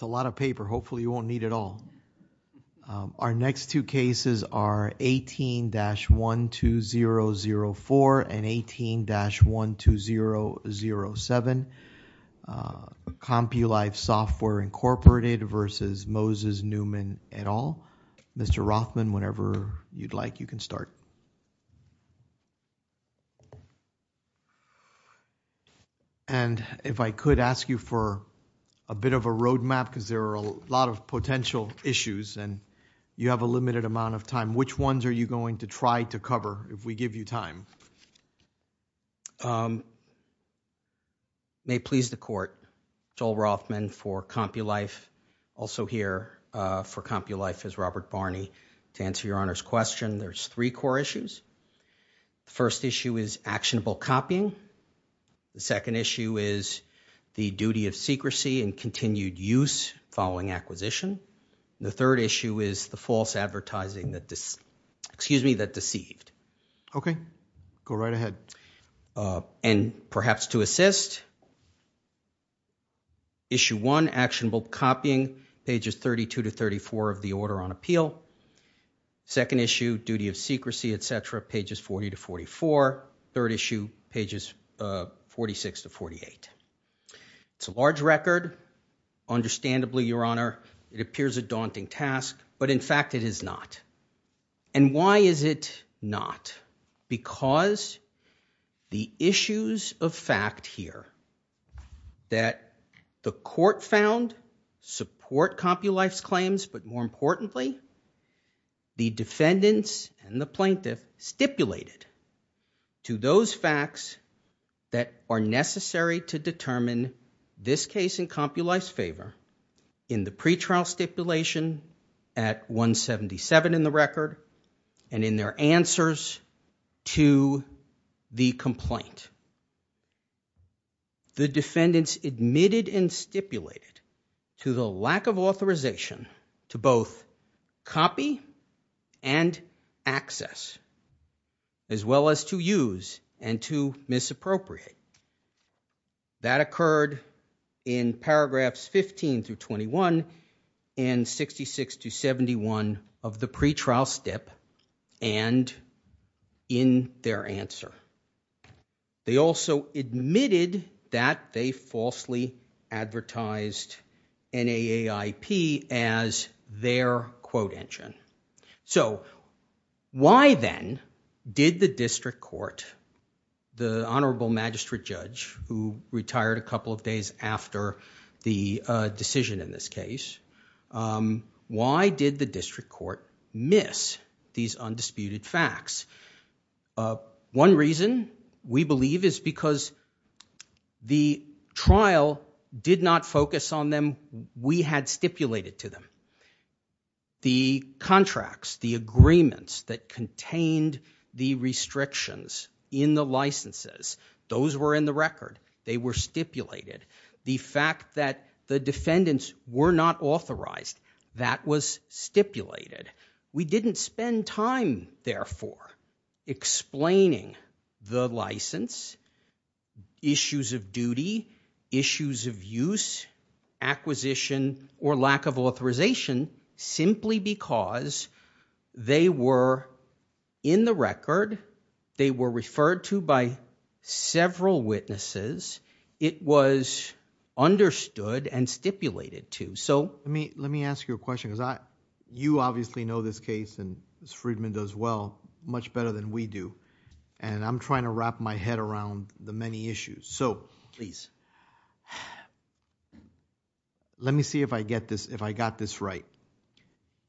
It's a lot of paper, hopefully you won't need it all. Our next two cases are 18-12004 and 18-12007, Compulife Software Inc. v. Moses Newman, et al. Mr. Rothman, whenever you'd like, you can start. And if I could ask you for a bit of a roadmap because there are a lot of potential issues and you have a limited amount of time, which ones are you going to try to cover if we give you time? May it please the Court, Joel Rothman for Compulife, also here for Compulife is Robert Barney. To answer your Honor's question, there's three core issues. The first issue is actionable copying. The second issue is the duty of secrecy and continued use following acquisition. The third issue is the false advertising that deceived. Okay, go right ahead. And perhaps to assist, issue one, actionable copying, pages 32-34 of the order on appeal. Second issue, duty of secrecy, et cetera, pages 40-44. Third issue, pages 46-48. It's a large record. Understandably, your Honor, it appears a daunting task, but in fact it is not. And why is it not? Because the issues of fact here that the Court found support Compulife's claims, but more importantly, the defendants and the plaintiff stipulated to those facts that are necessary to determine this case in Compulife's favor in the pretrial stipulation at 177 in the record and in their answers to the complaint. The defendants admitted and stipulated to the lack of authorization to both copy and access, as well as to use and to misappropriate. That occurred in paragraphs 15-21 and 66-71 of the pretrial stip and in their answer. They also admitted that they falsely advertised NAAIP as their quote engine. So, why then did the District Court, the Honorable Magistrate Judge who retired a couple of days after the decision in this case, why did the District Court miss these undisputed facts? One reason, we believe, is because the trial did not focus on them we had stipulated to them. The contracts, the agreements that contained the restrictions in the licenses, those were in the record. They were stipulated. The fact that the defendants were not authorized, that was stipulated. We didn't spend time, therefore, explaining the license, issues of duty, issues of use, acquisition, or lack of authorization simply because they were in the record. They were referred to by several witnesses. It was understood and stipulated to. Let me ask you a question. You obviously know this case and Ms. Friedman does well, much better than we do. I'm trying to wrap my head around the many issues. Please. Let me see if I got this right.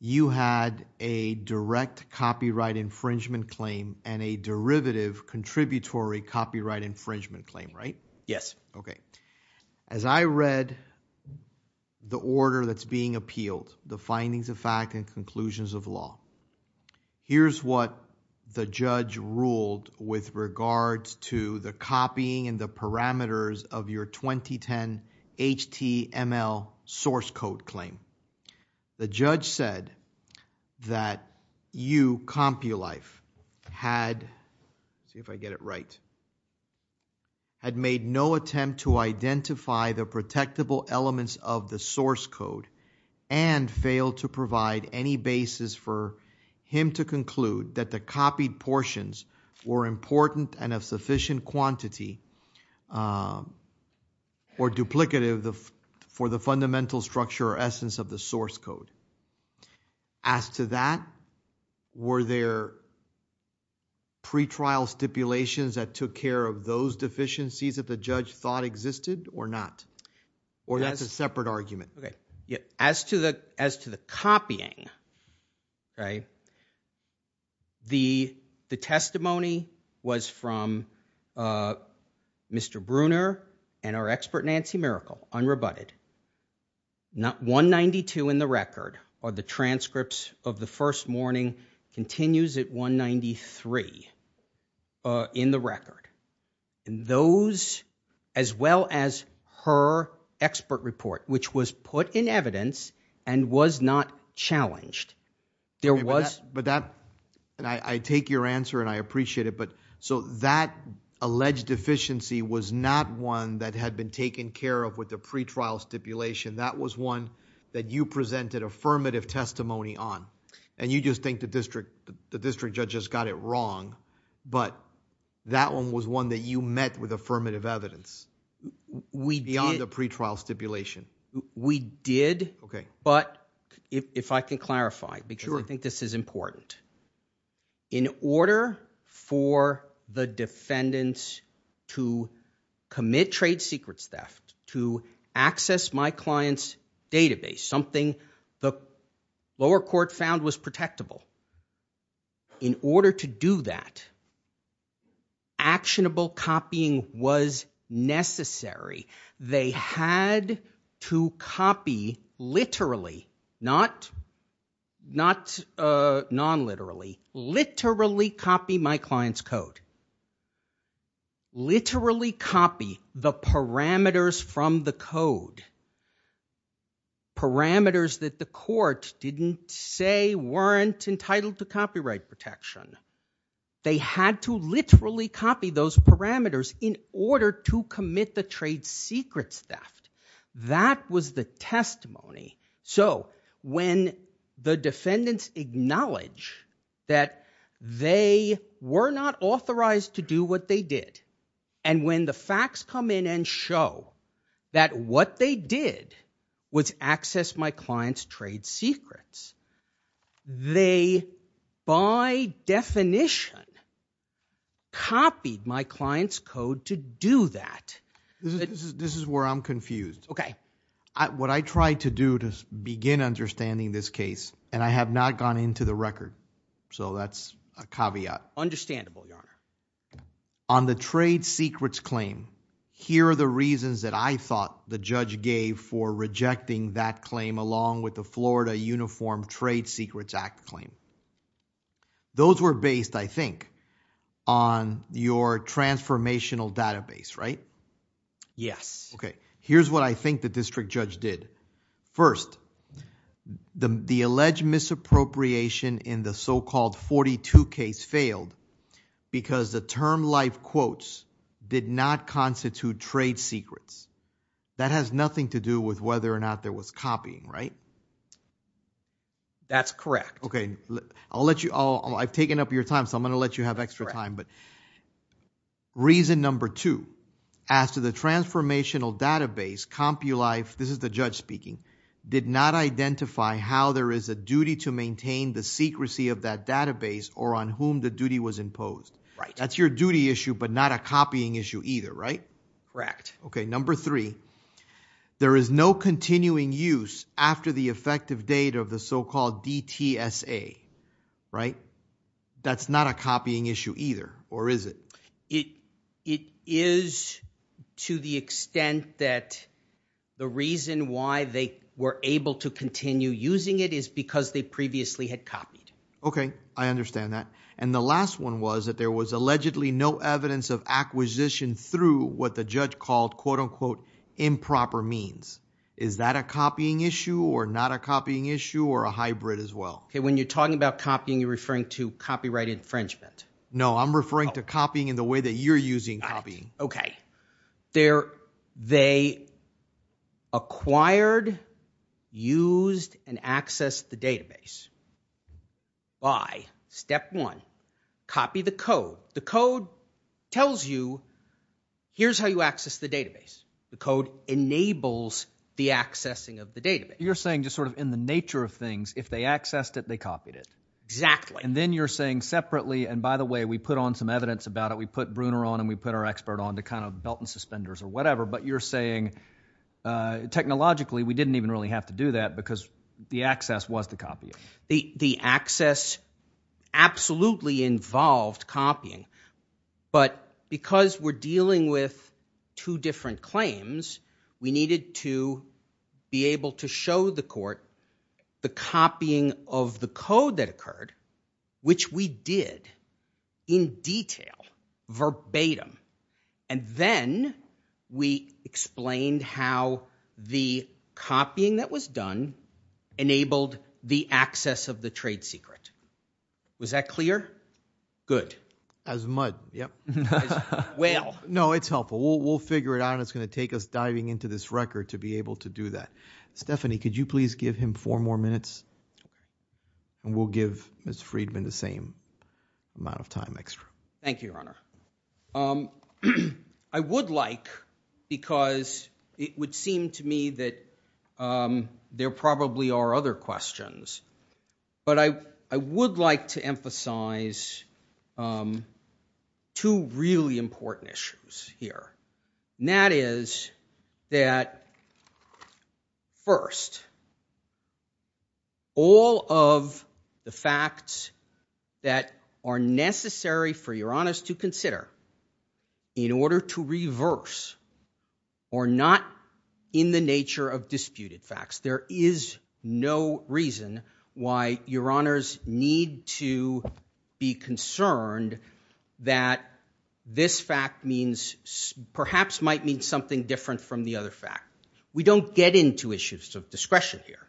You had a direct copyright infringement claim and a derivative contributory copyright infringement claim, right? Yes. As I read the order that's being appealed, the findings of fact and conclusions of law, here's what the judge ruled with regards to the copying and the parameters of your 2010 HTML source code claim. The judge said that you, CompuLife, had, let's see if I get it right, had made no attempt to identify the protectable elements of the source code and failed to provide any basis for him to conclude that the copied portions were important and of sufficient quantity or duplicative for the fundamental structure or essence of the source code. As to that, were there pre-trial stipulations that took care of those deficiencies that the judge thought existed or not? Or that's a separate argument? As to the copying, the testimony was from Mr. Bruner and our expert Nancy Miracle, unrebutted. 192 in the record or the transcripts of the first morning continues at 193 in the record. Those, as well as her expert report, which was put in evidence and was not challenged, there was. But that, and I take your answer and I appreciate it, but so that alleged deficiency was not one that had been taken care of with the pre-trial stipulation. That was one that you presented affirmative testimony on. And you just think the district judges got it wrong, but that one was one that you met with affirmative evidence. We did. Beyond the pre-trial stipulation. We did. Okay. But if I can clarify, because I think this is important. In order for the defendants to commit trade secrets theft, to access my client's database, something the lower court found was protectable. In order to do that, actionable copying was necessary. They had to copy literally, not non-literally, literally copy my client's code. Literally copy the parameters from the code. Parameters that the court didn't say weren't entitled to copyright protection. They had to literally copy those parameters in order to commit the trade secrets theft. That was the testimony. So when the defendants acknowledge that they were not authorized to do what they did, and when the facts come in and show that what they did was access my client's trade secrets, they by definition copied my client's code to do that. This is where I'm confused. Okay. What I tried to do to begin understanding this case, and I have not gone into the record, so that's a caveat. Understandable, Your Honor. On the trade secrets claim, here are the reasons that I thought the judge gave for rejecting that claim along with the Florida Uniform Trade Secrets Act claim. Those were based, I think, on your transformational database, right? Yes. Okay. Here's what I think the district judge did. First, the alleged misappropriation in the so-called 42 case failed because the term life quotes did not constitute trade secrets. That has nothing to do with whether or not there was copying, right? That's correct. Okay. I've taken up your time, so I'm going to let you have extra time. Reason number two, as to the transformational database, CompuLife, this is the judge speaking, did not identify how there is a duty to maintain the secrecy of that database or on whom the duty was imposed. That's your duty issue but not a copying issue either, right? Correct. Okay. Number three, there is no continuing use after the effective date of the so-called DTSA, right? That's not a copying issue either, or is it? It is to the extent that the reason why they were able to continue using it is because they previously had copied. Okay. I understand that. And the last one was that there was allegedly no evidence of acquisition through what the judge called, quote-unquote, improper means. Is that a copying issue or not a copying issue or a hybrid as well? When you're talking about copying, you're referring to copyright infringement. No, I'm referring to copying in the way that you're using copying. Okay. They acquired, used, and accessed the database by step one, copy the code. The code tells you here's how you access the database. The code enables the accessing of the database. You're saying just sort of in the nature of things, if they accessed it, they copied it. Exactly. And then you're saying separately, and by the way, we put on some evidence about it. We put Bruner on and we put our expert on to kind of belt and suspenders or whatever. But you're saying technologically we didn't even really have to do that because the access was to copy it. The access absolutely involved copying. But because we're dealing with two different claims, we needed to be able to show the court the copying of the code that occurred, which we did in detail, verbatim. And then we explained how the copying that was done enabled the access of the trade secret. Was that clear? Good. As mud. Yep. As whale. No, it's helpful. We'll figure it out. It's going to take us diving into this record to be able to do that. Stephanie, could you please give him four more minutes, and we'll give Ms. Friedman the same amount of time extra. Thank you, Your Honor. I would like, because it would seem to me that there probably are other questions, but I would like to emphasize two really important issues here. And that is that, first, all of the facts that are necessary for Your Honors to consider in order to reverse, or not in the nature of disputed facts. There is no reason why Your Honors need to be concerned that this fact perhaps might mean something different from the other fact. We don't get into issues of discretion here.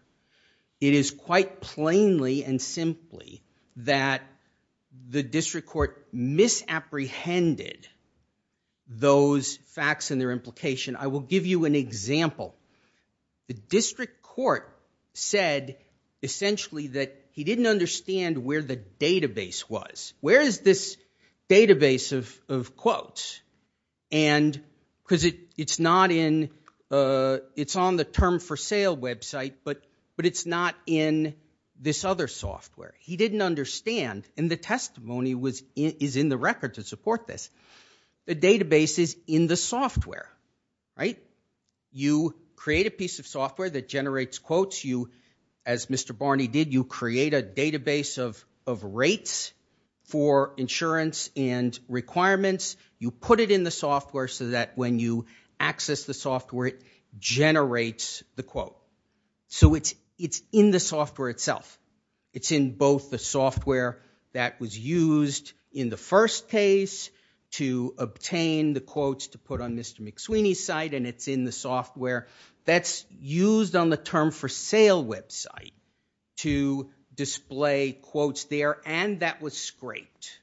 It is quite plainly and simply that the district court misapprehended those facts and their implication. I will give you an example. The district court said, essentially, that he didn't understand where the database was. Where is this database of quotes? And because it's not in, it's on the Term for Sale website, but it's not in this other software. He didn't understand, and the testimony is in the record to support this. The database is in the software, right? You create a piece of software that generates quotes. As Mr. Barney did, you create a database of rates for insurance and requirements. You put it in the software so that when you access the software, it generates the quote. So it's in the software itself. It's in both the software that was used in the first case to obtain the quotes to put on Mr. McSweeney's site, and it's in the software that's used on the Term for Sale website to display quotes there, and that was scraped.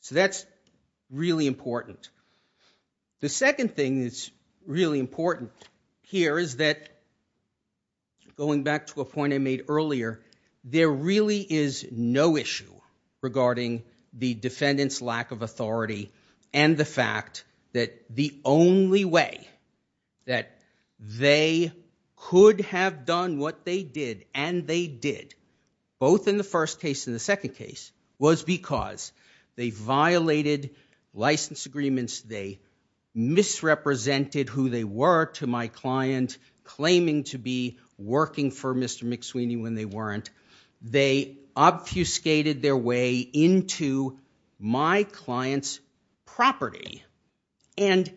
So that's really important. The second thing that's really important here is that, going back to a point I made earlier, there really is no issue regarding the defendant's lack of authority and the fact that the only way that they could have done what they did, and they did, both in the first case and the second case, was because they violated license agreements, they misrepresented who they were to my client, claiming to be working for Mr. McSweeney when they weren't. They obfuscated their way into my client's property, and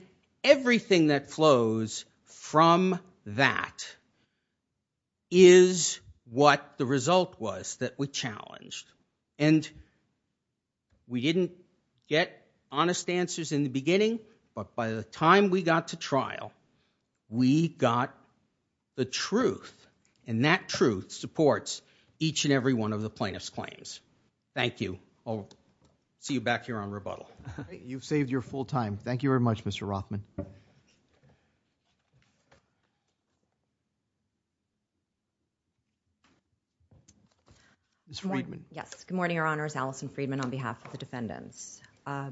everything that flows from that is what the result was that we challenged. And we didn't get honest answers in the beginning, but by the time we got to trial, we got the truth, and that truth supports each and every one of the plaintiff's claims. Thank you. I'll see you back here on rebuttal. You've saved your full time. Thank you very much, Mr. Rothman. Ms. Friedman. Yes. Good morning, Your Honor. It's Alison Friedman on behalf of the defendants. I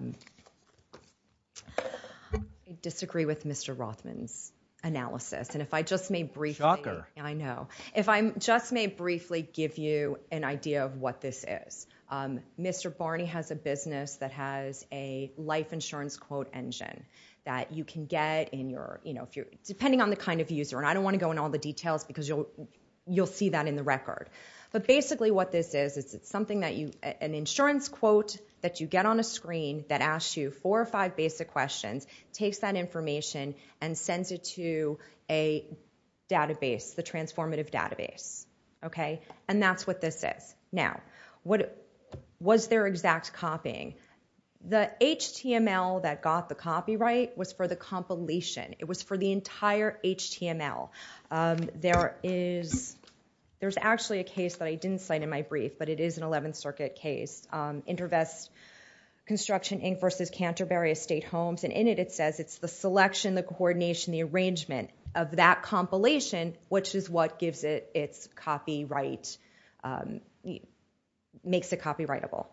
disagree with Mr. Rothman's analysis, and if I just may briefly— Shocker. I know. If I just may briefly give you an idea of what this is, Mr. Barney has a business that has a life insurance quote engine that you can get depending on the kind of user, and I don't want to go into all the details because you'll see that in the record. But basically what this is, it's an insurance quote that you get on a screen that asks you four or five basic questions, takes that information, and sends it to a database, the transformative database. And that's what this is. Now, was there exact copying? The HTML that got the copyright was for the compilation. It was for the entire HTML. There is actually a case that I didn't cite in my brief, but it is an 11th Circuit case, InterVest Construction Inc. v. Canterbury Estate Homes, and in it it says it's the selection, the coordination, the arrangement of that compilation, which is what gives it its copyright, makes it copyrightable.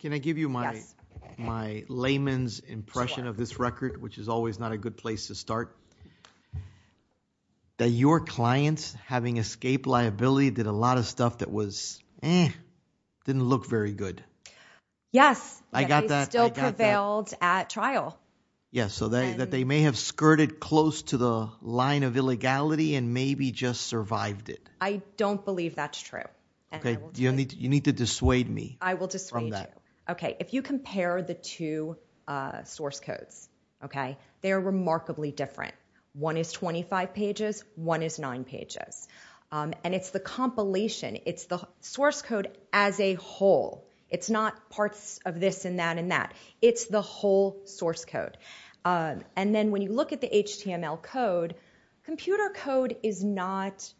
Can I give you my layman's impression of this record, which is always not a good place to start? That your clients, having escaped liability, did a lot of stuff that was, eh, didn't look very good. Yes. I got that. They still prevailed at trial. Yes, so that they may have skirted close to the line of illegality and maybe just survived it. I don't believe that's true. Okay, you need to dissuade me. I will dissuade you. Okay, if you compare the two source codes, okay, they are remarkably different. One is 25 pages, one is 9 pages, and it's the compilation. It's the source code as a whole. It's not parts of this and that and that. It's the whole source code, and then when you look at the HTML code, computer code is not,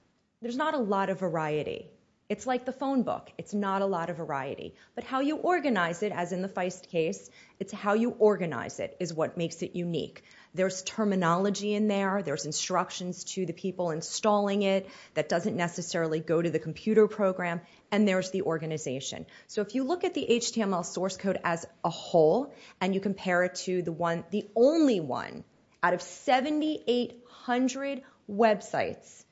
there's not a lot of variety. It's like the phone book. It's not a lot of variety, but how you organize it, as in the Feist case, it's how you organize it is what makes it unique. There's terminology in there. There's instructions to the people installing it that doesn't necessarily go to the computer program, and there's the organization. So if you look at the HTML source code as a whole and you compare it to the one, out of 7,800 websites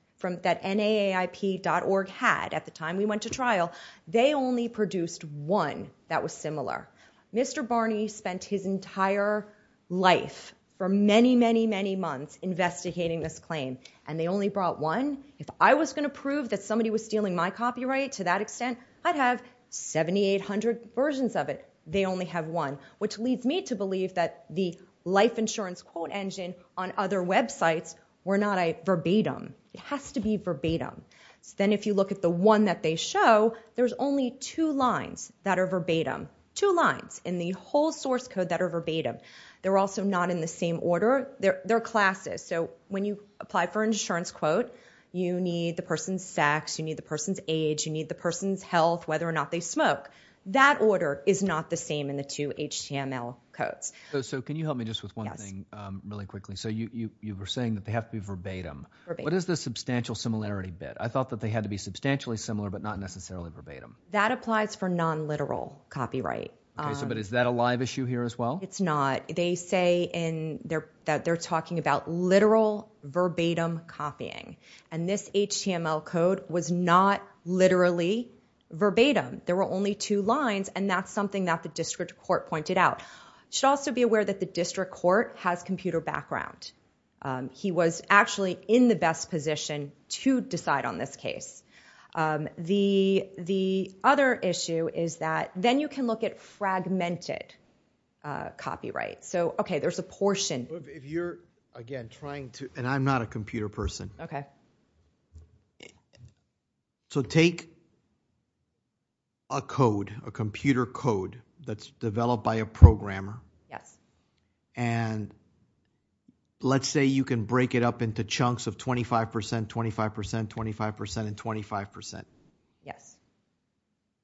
that NAAIP.org had at the time we went to trial, they only produced one that was similar. Mr. Barney spent his entire life for many, many, many months investigating this claim, and they only brought one? If I was going to prove that somebody was stealing my copyright to that extent, I'd have 7,800 versions of it. They only have one, which leads me to believe that the life insurance quote engine on other websites were not verbatim. It has to be verbatim. Then if you look at the one that they show, there's only two lines that are verbatim, two lines in the whole source code that are verbatim. They're also not in the same order. They're classes. So when you apply for an insurance quote, you need the person's sex, you need the person's age, you need the person's health, whether or not they smoke. That order is not the same in the two HTML codes. So can you help me just with one thing really quickly? So you were saying that they have to be verbatim. What is the substantial similarity bit? I thought that they had to be substantially similar but not necessarily verbatim. That applies for nonliteral copyright. But is that a live issue here as well? It's not. They say that they're talking about literal verbatim copying, and this HTML code was not literally verbatim. There were only two lines, and that's something that the district court pointed out. You should also be aware that the district court has computer background. He was actually in the best position to decide on this case. The other issue is that then you can look at fragmented copyright. So, okay, there's a portion. If you're, again, trying to – and I'm not a computer person. Okay. So take a code, a computer code that's developed by a programmer, and let's say you can break it up into chunks of 25%, 25%, 25%, and 25%. Yes.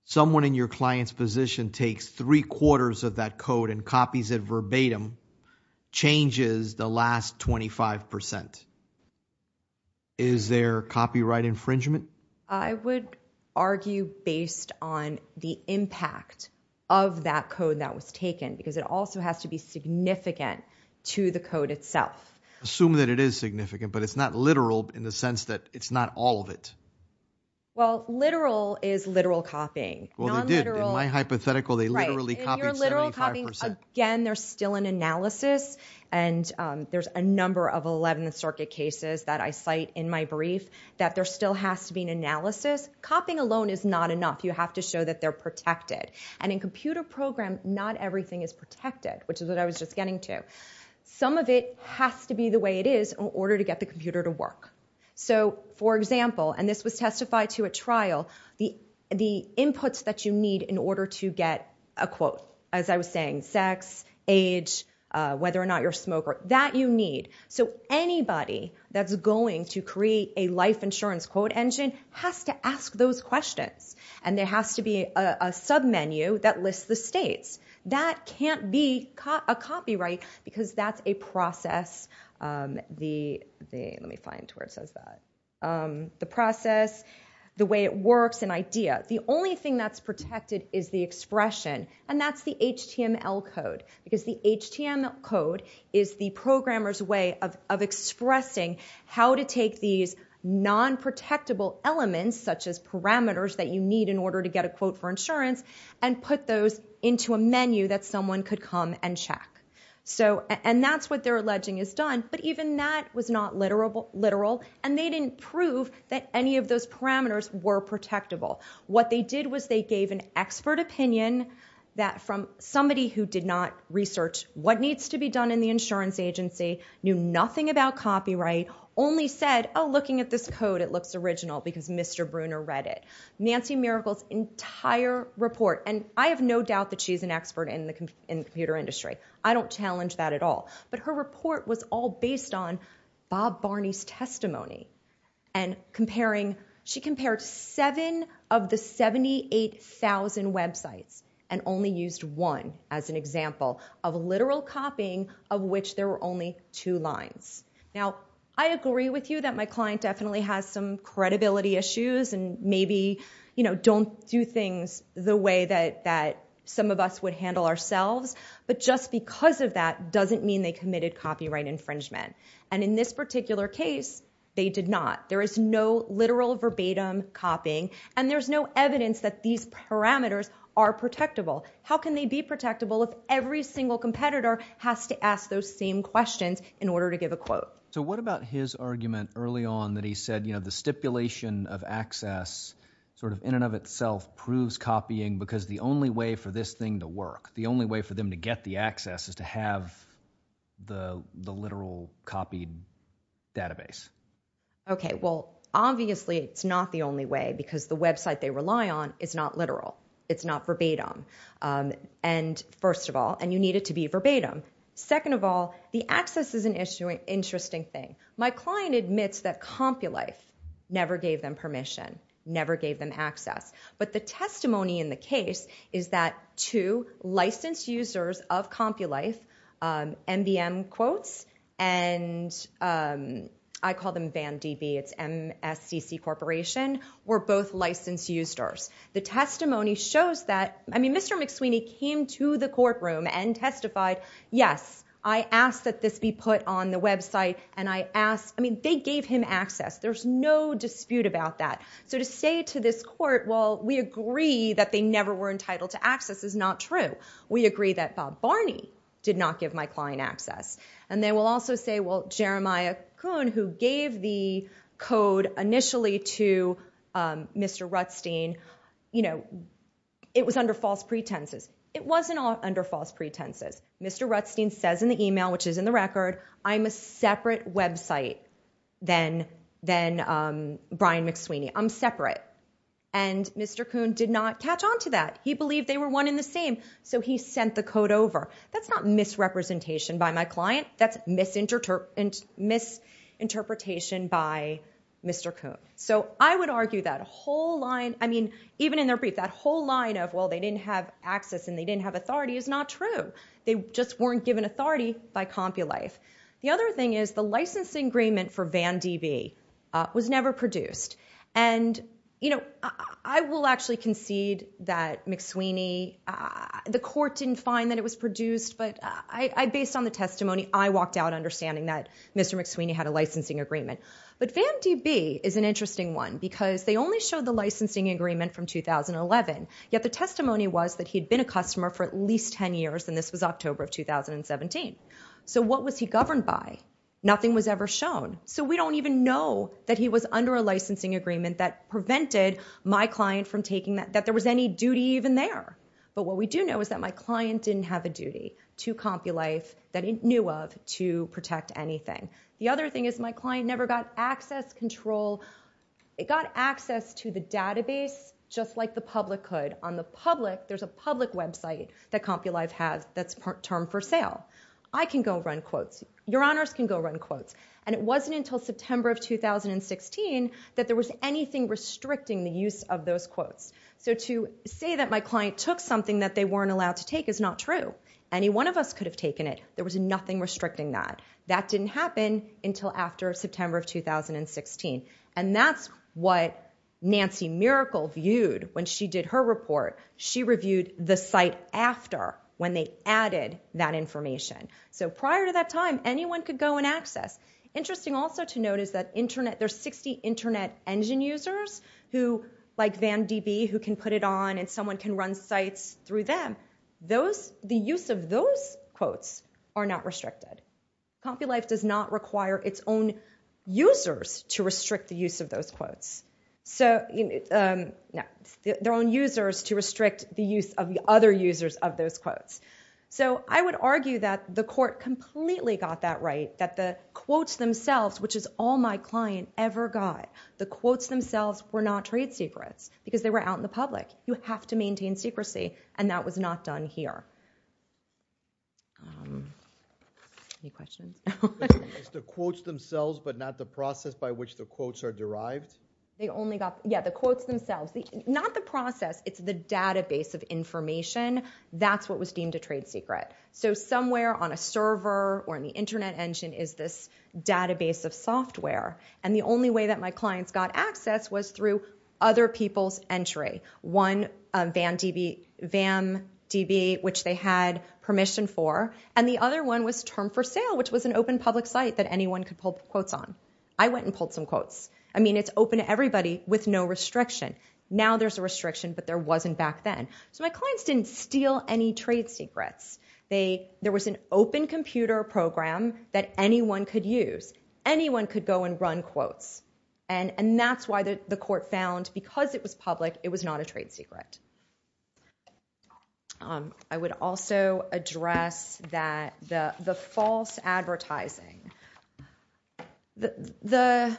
Someone in your client's position takes three-quarters of that code and copies it verbatim, changes the last 25%. Is there copyright infringement? I would argue based on the impact of that code that was taken because it also has to be significant to the code itself. Assume that it is significant, but it's not literal in the sense that it's not all of it. Well, literal is literal copying. Well, they did. In my hypothetical, they literally copied 75%. Again, there's still an analysis, and there's a number of 11th Circuit cases that I cite in my brief that there still has to be an analysis. Copying alone is not enough. You have to show that they're protected. And in computer program, not everything is protected, which is what I was just getting to. Some of it has to be the way it is in order to get the computer to work. So, for example, and this was testified to at trial, the inputs that you need in order to get a quote, as I was saying, sex, age, whether or not you're a smoker, that you need. So anybody that's going to create a life insurance quote engine has to ask those questions, and there has to be a submenu that lists the states. That can't be a copyright because that's a process. Let me find where it says that. The process, the way it works, an idea. The only thing that's protected is the expression, and that's the HTML code, because the HTML code is the programmer's way of expressing how to take these non-protectable elements, such as parameters that you need in order to get a quote for insurance, and put those into a menu that someone could come and check. And that's what they're alleging is done, but even that was not literal, and they didn't prove that any of those parameters were protectable. What they did was they gave an expert opinion that from somebody who did not research what needs to be done in the insurance agency, knew nothing about copyright, only said, oh, looking at this code, it looks original because Mr. Bruner read it. Nancy Miracle's entire report, and I have no doubt that she's an expert in the computer industry. I don't challenge that at all. But her report was all based on Bob Barney's testimony, and she compared seven of the 78,000 websites, and only used one as an example of literal copying of which there were only two lines. Now, I agree with you that my client definitely has some credibility issues, and maybe don't do things the way that some of us would handle ourselves, but just because of that doesn't mean they committed copyright infringement. And in this particular case, they did not. There is no literal verbatim copying, and there's no evidence that these parameters are protectable. How can they be protectable if every single competitor has to ask those same questions in order to give a quote? So what about his argument early on that he said the stipulation of access sort of in and of itself proves copying because the only way for this thing to work, the only way for them to get the access is to have the literal copied database? Okay, well, obviously it's not the only way because the website they rely on is not literal. It's not verbatim. And first of all, and you need it to be verbatim. Second of all, the access is an interesting thing. My client admits that CompuLife never gave them permission, never gave them access. But the testimony in the case is that two licensed users of CompuLife, MBM Quotes and I call them BAMDB, it's MSCC Corporation, were both licensed users. The testimony shows that, I mean, Mr. McSweeney came to the courtroom and testified, yes, I asked that this be put on the website, and I asked, I mean, they gave him access. There's no dispute about that. So to say to this court, well, we agree that they never were entitled to access is not true. We agree that Bob Barney did not give my client access. And they will also say, well, Jeremiah Coon, who gave the code initially to Mr. Rutstein, you know, it was under false pretenses. It wasn't under false pretenses. Mr. Rutstein says in the email, which is in the record, I'm a separate website than Brian McSweeney. I'm separate. And Mr. Coon did not catch on to that. He believed they were one in the same, so he sent the code over. That's not misrepresentation by my client. That's misinterpretation by Mr. Coon. So I would argue that a whole line, I mean, even in their brief, that whole line of, well, they didn't have access and they didn't have authority is not true. They just weren't given authority by Compulife. The other thing is the licensing agreement for Van D.B. was never produced. And, you know, I will actually concede that McSweeney, the court didn't find that it was produced, but based on the testimony, I walked out understanding that Mr. McSweeney had a licensing agreement. But Van D.B. is an interesting one because they only showed the licensing agreement from 2011, yet the testimony was that he had been a customer for at least 10 years, and this was October of 2017. So what was he governed by? Nothing was ever shown. So we don't even know that he was under a licensing agreement that prevented my client from taking that, that there was any duty even there. But what we do know is that my client didn't have a duty to Compulife that he knew of to protect anything. The other thing is my client never got access control. It got access to the database just like the public could. On the public, there's a public website that Compulife has that's termed for sale. I can go run quotes. Your honors can go run quotes. And it wasn't until September of 2016 that there was anything restricting the use of those quotes. So to say that my client took something that they weren't allowed to take is not true. Any one of us could have taken it. There was nothing restricting that. That didn't happen until after September of 2016. And that's what Nancy Miracle viewed when she did her report. She reviewed the site after when they added that information. So prior to that time, anyone could go and access. Interesting also to note is that there's 60 internet engine users who, like Van DB, who can put it on and someone can run sites through them. The use of those quotes are not restricted. Compulife does not require its own users to restrict the use of those quotes. Their own users to restrict the use of the other users of those quotes. So I would argue that the court completely got that right, that the quotes themselves, which is all my client ever got, the quotes themselves were not trade secrets because they were out in the public. You have to maintain secrecy. And that was not done here. Any questions? It's the quotes themselves but not the process by which the quotes are derived? Yeah, the quotes themselves. Not the process. It's the database of information. That's what was deemed a trade secret. So somewhere on a server or in the internet engine is this database of software. And the only way that my clients got access was through other people's entry. One, Van DB, which they had permission for, and the other one was Term for Sale, which was an open public site that anyone could pull quotes on. I went and pulled some quotes. I mean, it's open to everybody with no restriction. Now there's a restriction, but there wasn't back then. So my clients didn't steal any trade secrets. There was an open computer program that anyone could use. Anyone could go and run quotes. And that's why the court found, because it was public, it was not a trade secret. I would also address the false advertising. The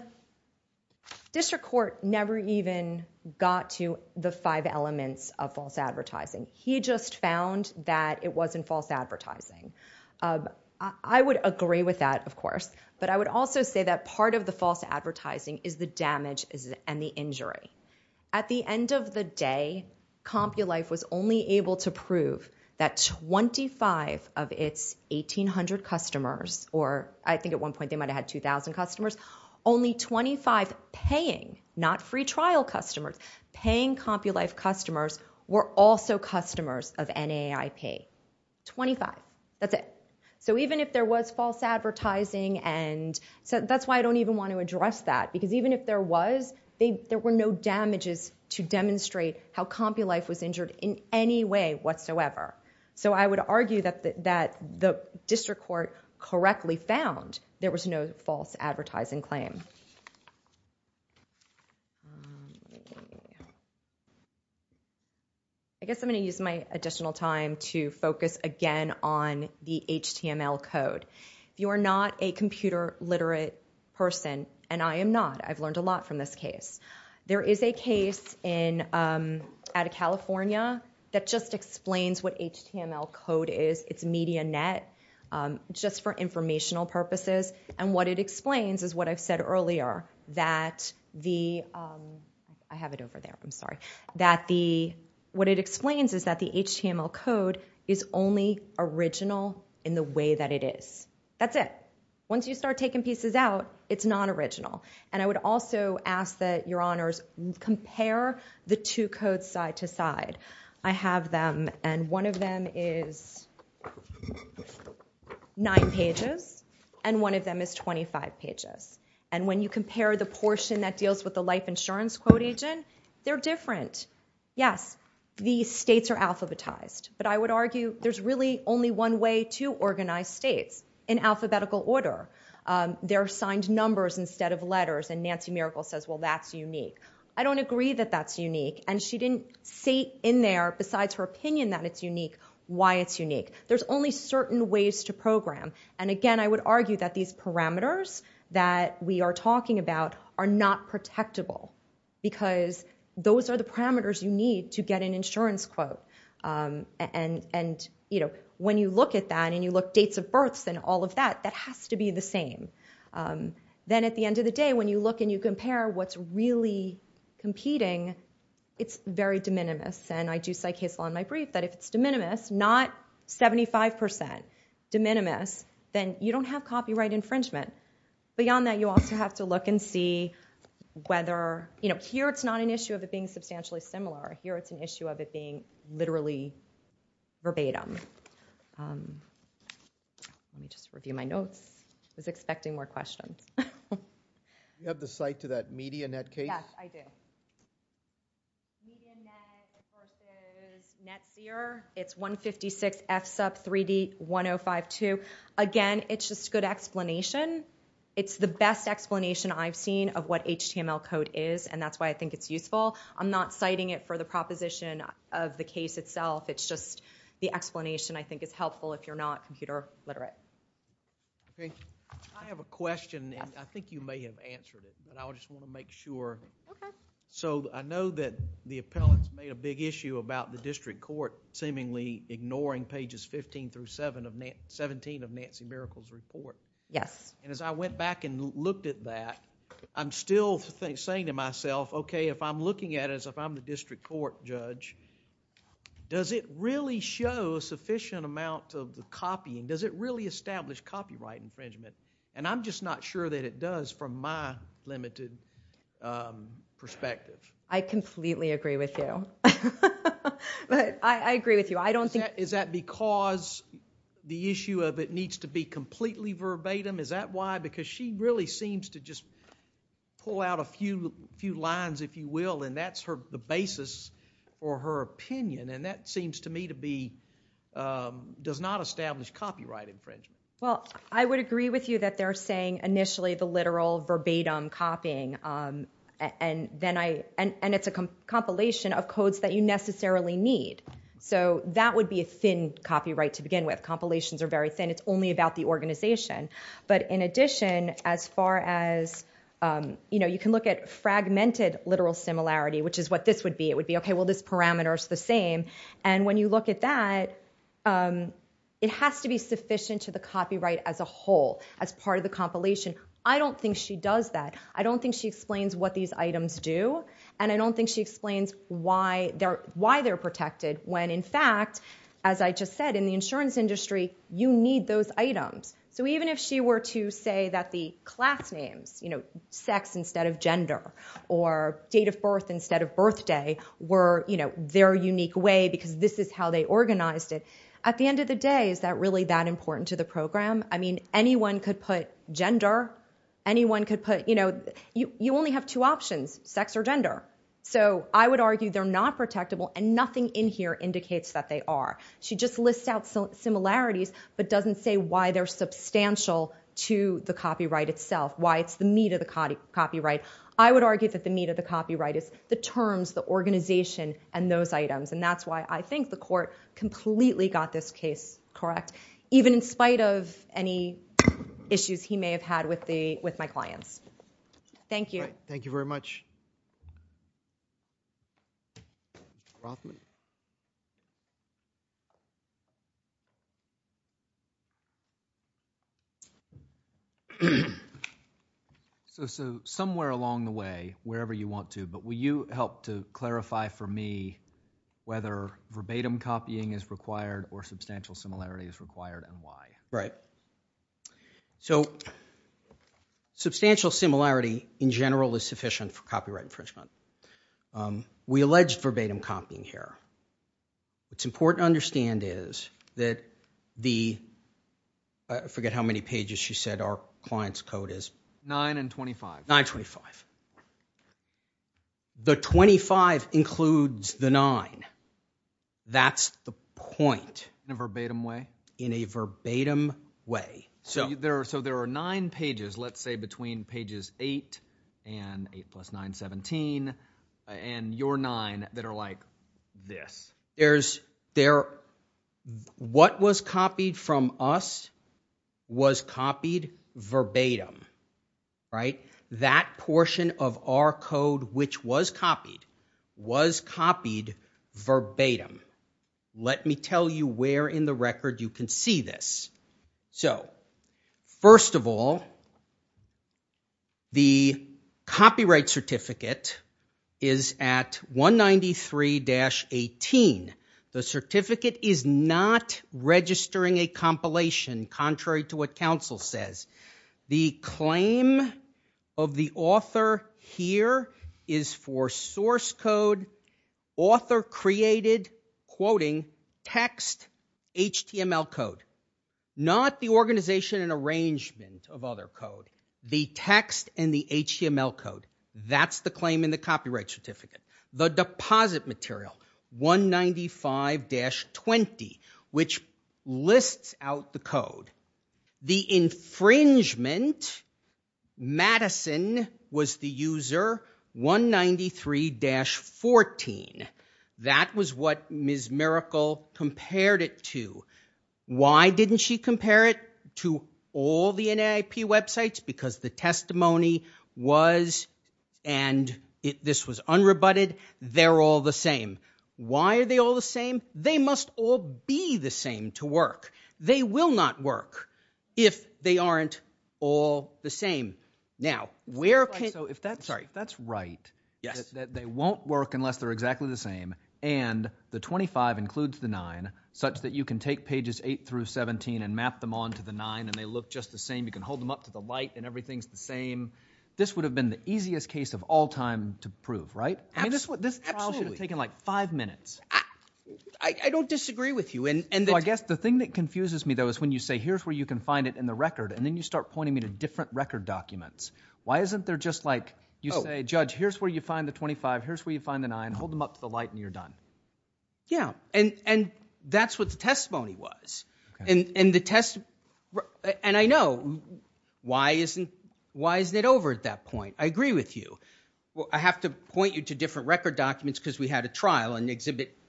district court never even got to the five elements of false advertising. He just found that it wasn't false advertising. I would agree with that, of course. But I would also say that part of the false advertising is the damage and the injury. At the end of the day, Compulife was only able to prove that 25 of its 1,800 customers, or I think at one point they might have had 2,000 customers, only 25 paying, not free trial customers, paying Compulife customers were also customers of NAIP. 25. That's it. So even if there was false advertising, and that's why I don't even want to address that, because even if there was, there were no damages to demonstrate how Compulife was injured in any way whatsoever. So I would argue that the district court correctly found there was no false advertising claim. I guess I'm going to use my additional time to focus again on the HTML code. If you are not a computer literate person, and I am not, I've learned a lot from this case, there is a case out of California that just explains what HTML code is. It's MediaNet, just for informational purposes. And what it explains is what I've said earlier, that the HTML code is only original in the way that it is. That's it. Once you start taking pieces out, it's not original. And I would also ask that your honors compare the two codes side to side. I have them, and one of them is nine pages, and one of them is 25 pages. And when you compare the portion that deals with the life insurance quote agent, they're different. Yes, the states are alphabetized, but I would argue there's really only one way to organize states, in alphabetical order. There are signed numbers instead of letters, and Nancy Miracle says, well, that's unique. I don't agree that that's unique. And she didn't say in there, besides her opinion that it's unique, why it's unique. There's only certain ways to program. And again, I would argue that these parameters that we are talking about are not protectable, because those are the parameters you need to get an insurance quote. And when you look at that, and you look at dates of births and all of that, that has to be the same. Then at the end of the day, when you look and you compare what's really competing, it's very de minimis. And I do cite case law in my brief that if it's de minimis, not 75% de minimis, then you don't have copyright infringement. Beyond that, you also have to look and see whether, you know, here it's not an issue of it being substantially similar. Here it's an issue of it being literally verbatim. Let me just review my notes. I was expecting more questions. Do you have the cite to that Medianet case? Yes, I do. Medianet, of course, is NetSeer. It's 156FSUP3D1052. Again, it's just good explanation. It's the best explanation I've seen of what HTML code is, and that's why I think it's useful. I'm not citing it for the proposition of the case itself. It's just the explanation I think is helpful if you're not computer literate. Okay. I have a question, and I think you may have answered it, but I just want to make sure. Okay. So I know that the appellants made a big issue about the district court seemingly ignoring pages 15 through 17 of Nancy Miracle's report. Yes. And as I went back and looked at that, I'm still saying to myself, okay, if I'm looking at it as if I'm the district court judge, does it really show a sufficient amount of the copying? Does it really establish copyright infringement? And I'm just not sure that it does from my limited perspective. I completely agree with you, but I agree with you. Is that because the issue of it needs to be completely verbatim? Is that why? Because she really seems to just pull out a few lines, if you will, and that's the basis for her opinion, and that seems to me to be does not establish copyright infringement. Well, I would agree with you that they're saying initially the literal verbatim copying, and it's a compilation of codes that you necessarily need. So that would be a thin copyright to begin with. Compilations are very thin. It's only about the organization. But in addition, as far as, you know, you can look at fragmented literal similarity, which is what this would be. It would be, okay, well, this parameter is the same. And when you look at that, it has to be sufficient to the copyright as a whole, as part of the compilation. I don't think she does that. I don't think she explains what these items do, and I don't think she explains why they're protected when, in fact, as I just said, in the insurance industry, you need those items. So even if she were to say that the class names, you know, sex instead of gender, or date of birth instead of birthday were, you know, their unique way because this is how they organized it, at the end of the day, is that really that important to the program? I mean, anyone could put gender. Anyone could put, you know, you only have two options, sex or gender. So I would argue they're not protectable, and nothing in here indicates that they are. She just lists out similarities but doesn't say why they're substantial to the copyright itself, why it's the meat of the copyright. I would argue that the meat of the copyright is the terms, the organization, and those items, and that's why I think the court completely got this case correct, even in spite of any issues he may have had with my clients. Thank you. All right, thank you very much. So somewhere along the way, wherever you want to, but will you help to clarify for me whether verbatim copying is required or substantial similarity is required and why? Right. So substantial similarity, in general, is sufficient for copyright infringement. We allege verbatim copying here. What's important to understand is that the, I forget how many pages she said our client's code is. Nine and 25. 925. The 25 includes the 9. That's the point. In a verbatim way? In a verbatim way. So there are nine pages, let's say between pages 8 and 8 plus 9, 17, and your nine that are like this. There's, what was copied from us was copied verbatim, right? That portion of our code which was copied was copied verbatim. Let me tell you where in the record you can see this. So first of all, the copyright certificate is at 193-18. The certificate is not registering a compilation, contrary to what counsel says. The claim of the author here is for source code, author created, quoting, text, HTML code. Not the organization and arrangement of other code. The text and the HTML code. That's the claim in the copyright certificate. The deposit material, 195-20, which lists out the code. The infringement, Madison, was the user, 193-14. That was what Ms. Miracle compared it to. Why didn't she compare it to all the NAIP websites? Because the testimony was, and this was unrebutted, they're all the same. Why are they all the same? They must all be the same to work. They will not work if they aren't all the same. Now, where can... If that's right, that they won't work unless they're exactly the same, and the 25 includes the 9 such that you can take pages 8-17 and map them on to the 9 and they look just the same, you can hold them up to the light and everything's the same, this would have been the easiest case of all time to prove, right? This trial should have taken like five minutes. I don't disagree with you. Well, I guess the thing that confuses me, though, is when you say, here's where you can find it in the record, and then you start pointing me to different record documents. Why isn't there just like you say, Judge, here's where you find the 25, here's where you find the 9, hold them up to the light, and you're done? Yeah, and that's what the testimony was. And I know. Why isn't it over at that point? I agree with you. I have to point you to different record documents because we had a trial, and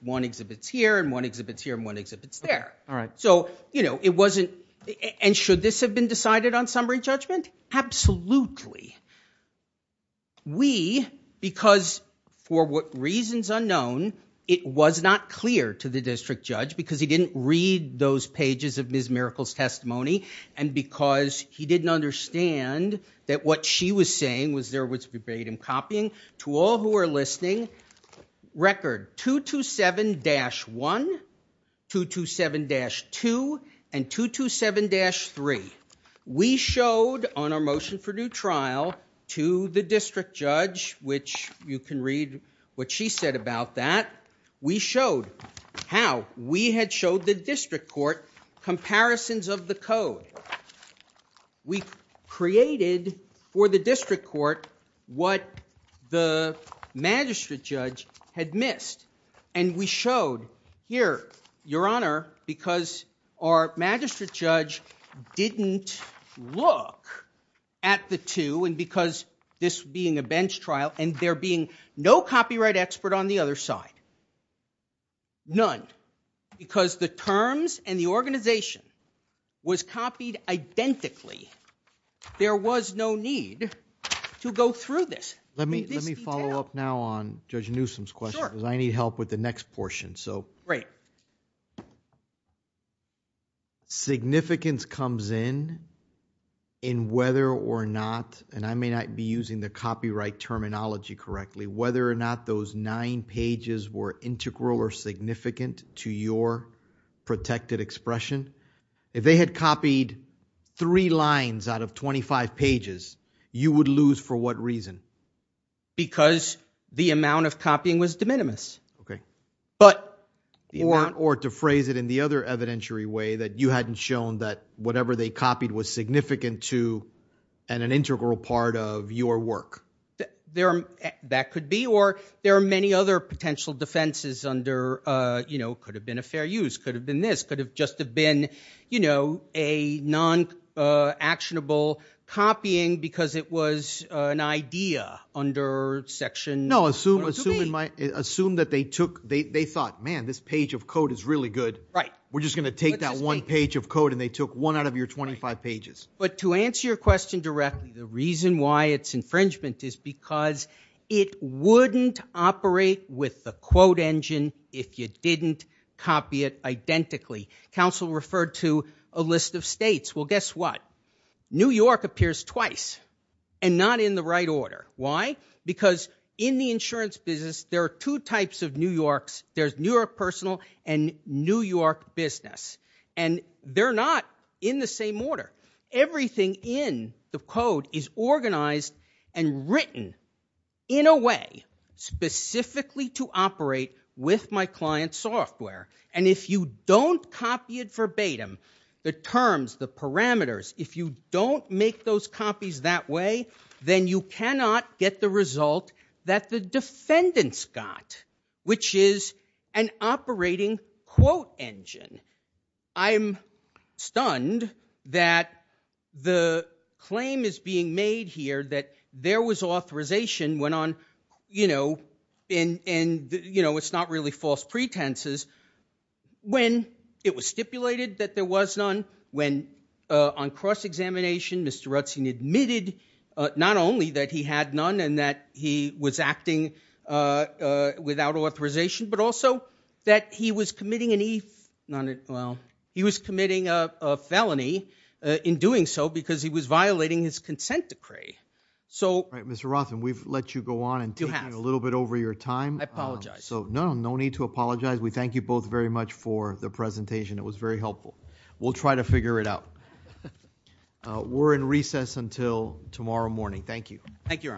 one exhibit's here and one exhibit's here and one exhibit's there. All right. So, you know, it wasn't, and should this have been decided on summary judgment? Absolutely. We, because for reasons unknown, it was not clear to the district judge because he didn't read those pages of Ms. Miracle's testimony and because he didn't understand that what she was saying was there was verbatim copying. To all who are listening, record 227-1, 227-2, and 227-3. We showed on our motion for due trial to the district judge, which you can read what she said about that, we showed how. We had showed the district court comparisons of the code. We created for the district court what the magistrate judge had missed, and we showed here, Your Honor, because our magistrate judge didn't look at the two and because this being a bench trial and there being no copyright expert on the other side. None. Because the terms and the organization was copied identically. There was no need to go through this. Let me follow up now on Judge Newsom's question because I need help with the next portion. Great. Significance comes in in whether or not, and I may not be using the copyright terminology correctly, whether or not those nine pages were integral or significant to your protected expression. If they had copied three lines out of 25 pages, you would lose for what reason? Because the amount of copying was de minimis. Okay. Or to phrase it in the other evidentiary way, that you hadn't shown that whatever they copied was significant to an integral part of your work. That could be, or there are many other potential defenses under, you know, could have been a fair use, could have been this, could have just have been, you know, a non-actionable copying because it was an idea under section. No, assume that they took, they thought, man, this page of code is really good. Right. We're just going to take that one page of code and they took one out of your 25 pages. But to answer your question directly, the reason why it's infringement is because it wouldn't operate with the quote engine if you didn't copy it identically. Counsel referred to a list of states. Well, guess what? New York appears twice and not in the right order. Why? Because in the insurance business, there are two types of New Yorks. There's New York personal and New York business. And they're not in the same order. Everything in the code is organized and written in a way specifically to operate with my client's software. And if you don't copy it verbatim, the terms, the parameters, if you don't make those copies that way, then you cannot get the result that the defendants got, which is an operating quote engine. I'm stunned that the claim is being made here that there was authorization went on, you know, and, you know, it's not really false pretenses. When it was stipulated that there was none, when on cross-examination, Mr. Rutzin admitted not only that he had none and that he was acting without authorization, but also that he was committing a felony in doing so because he was violating his consent decree. Mr. Rothman, we've let you go on and take a little bit over your time. I apologize. No, no need to apologize. We thank you both very much for the presentation. It was very helpful. We'll try to figure it out. We're in recess until tomorrow morning. Thank you. Thank you, Your Honors.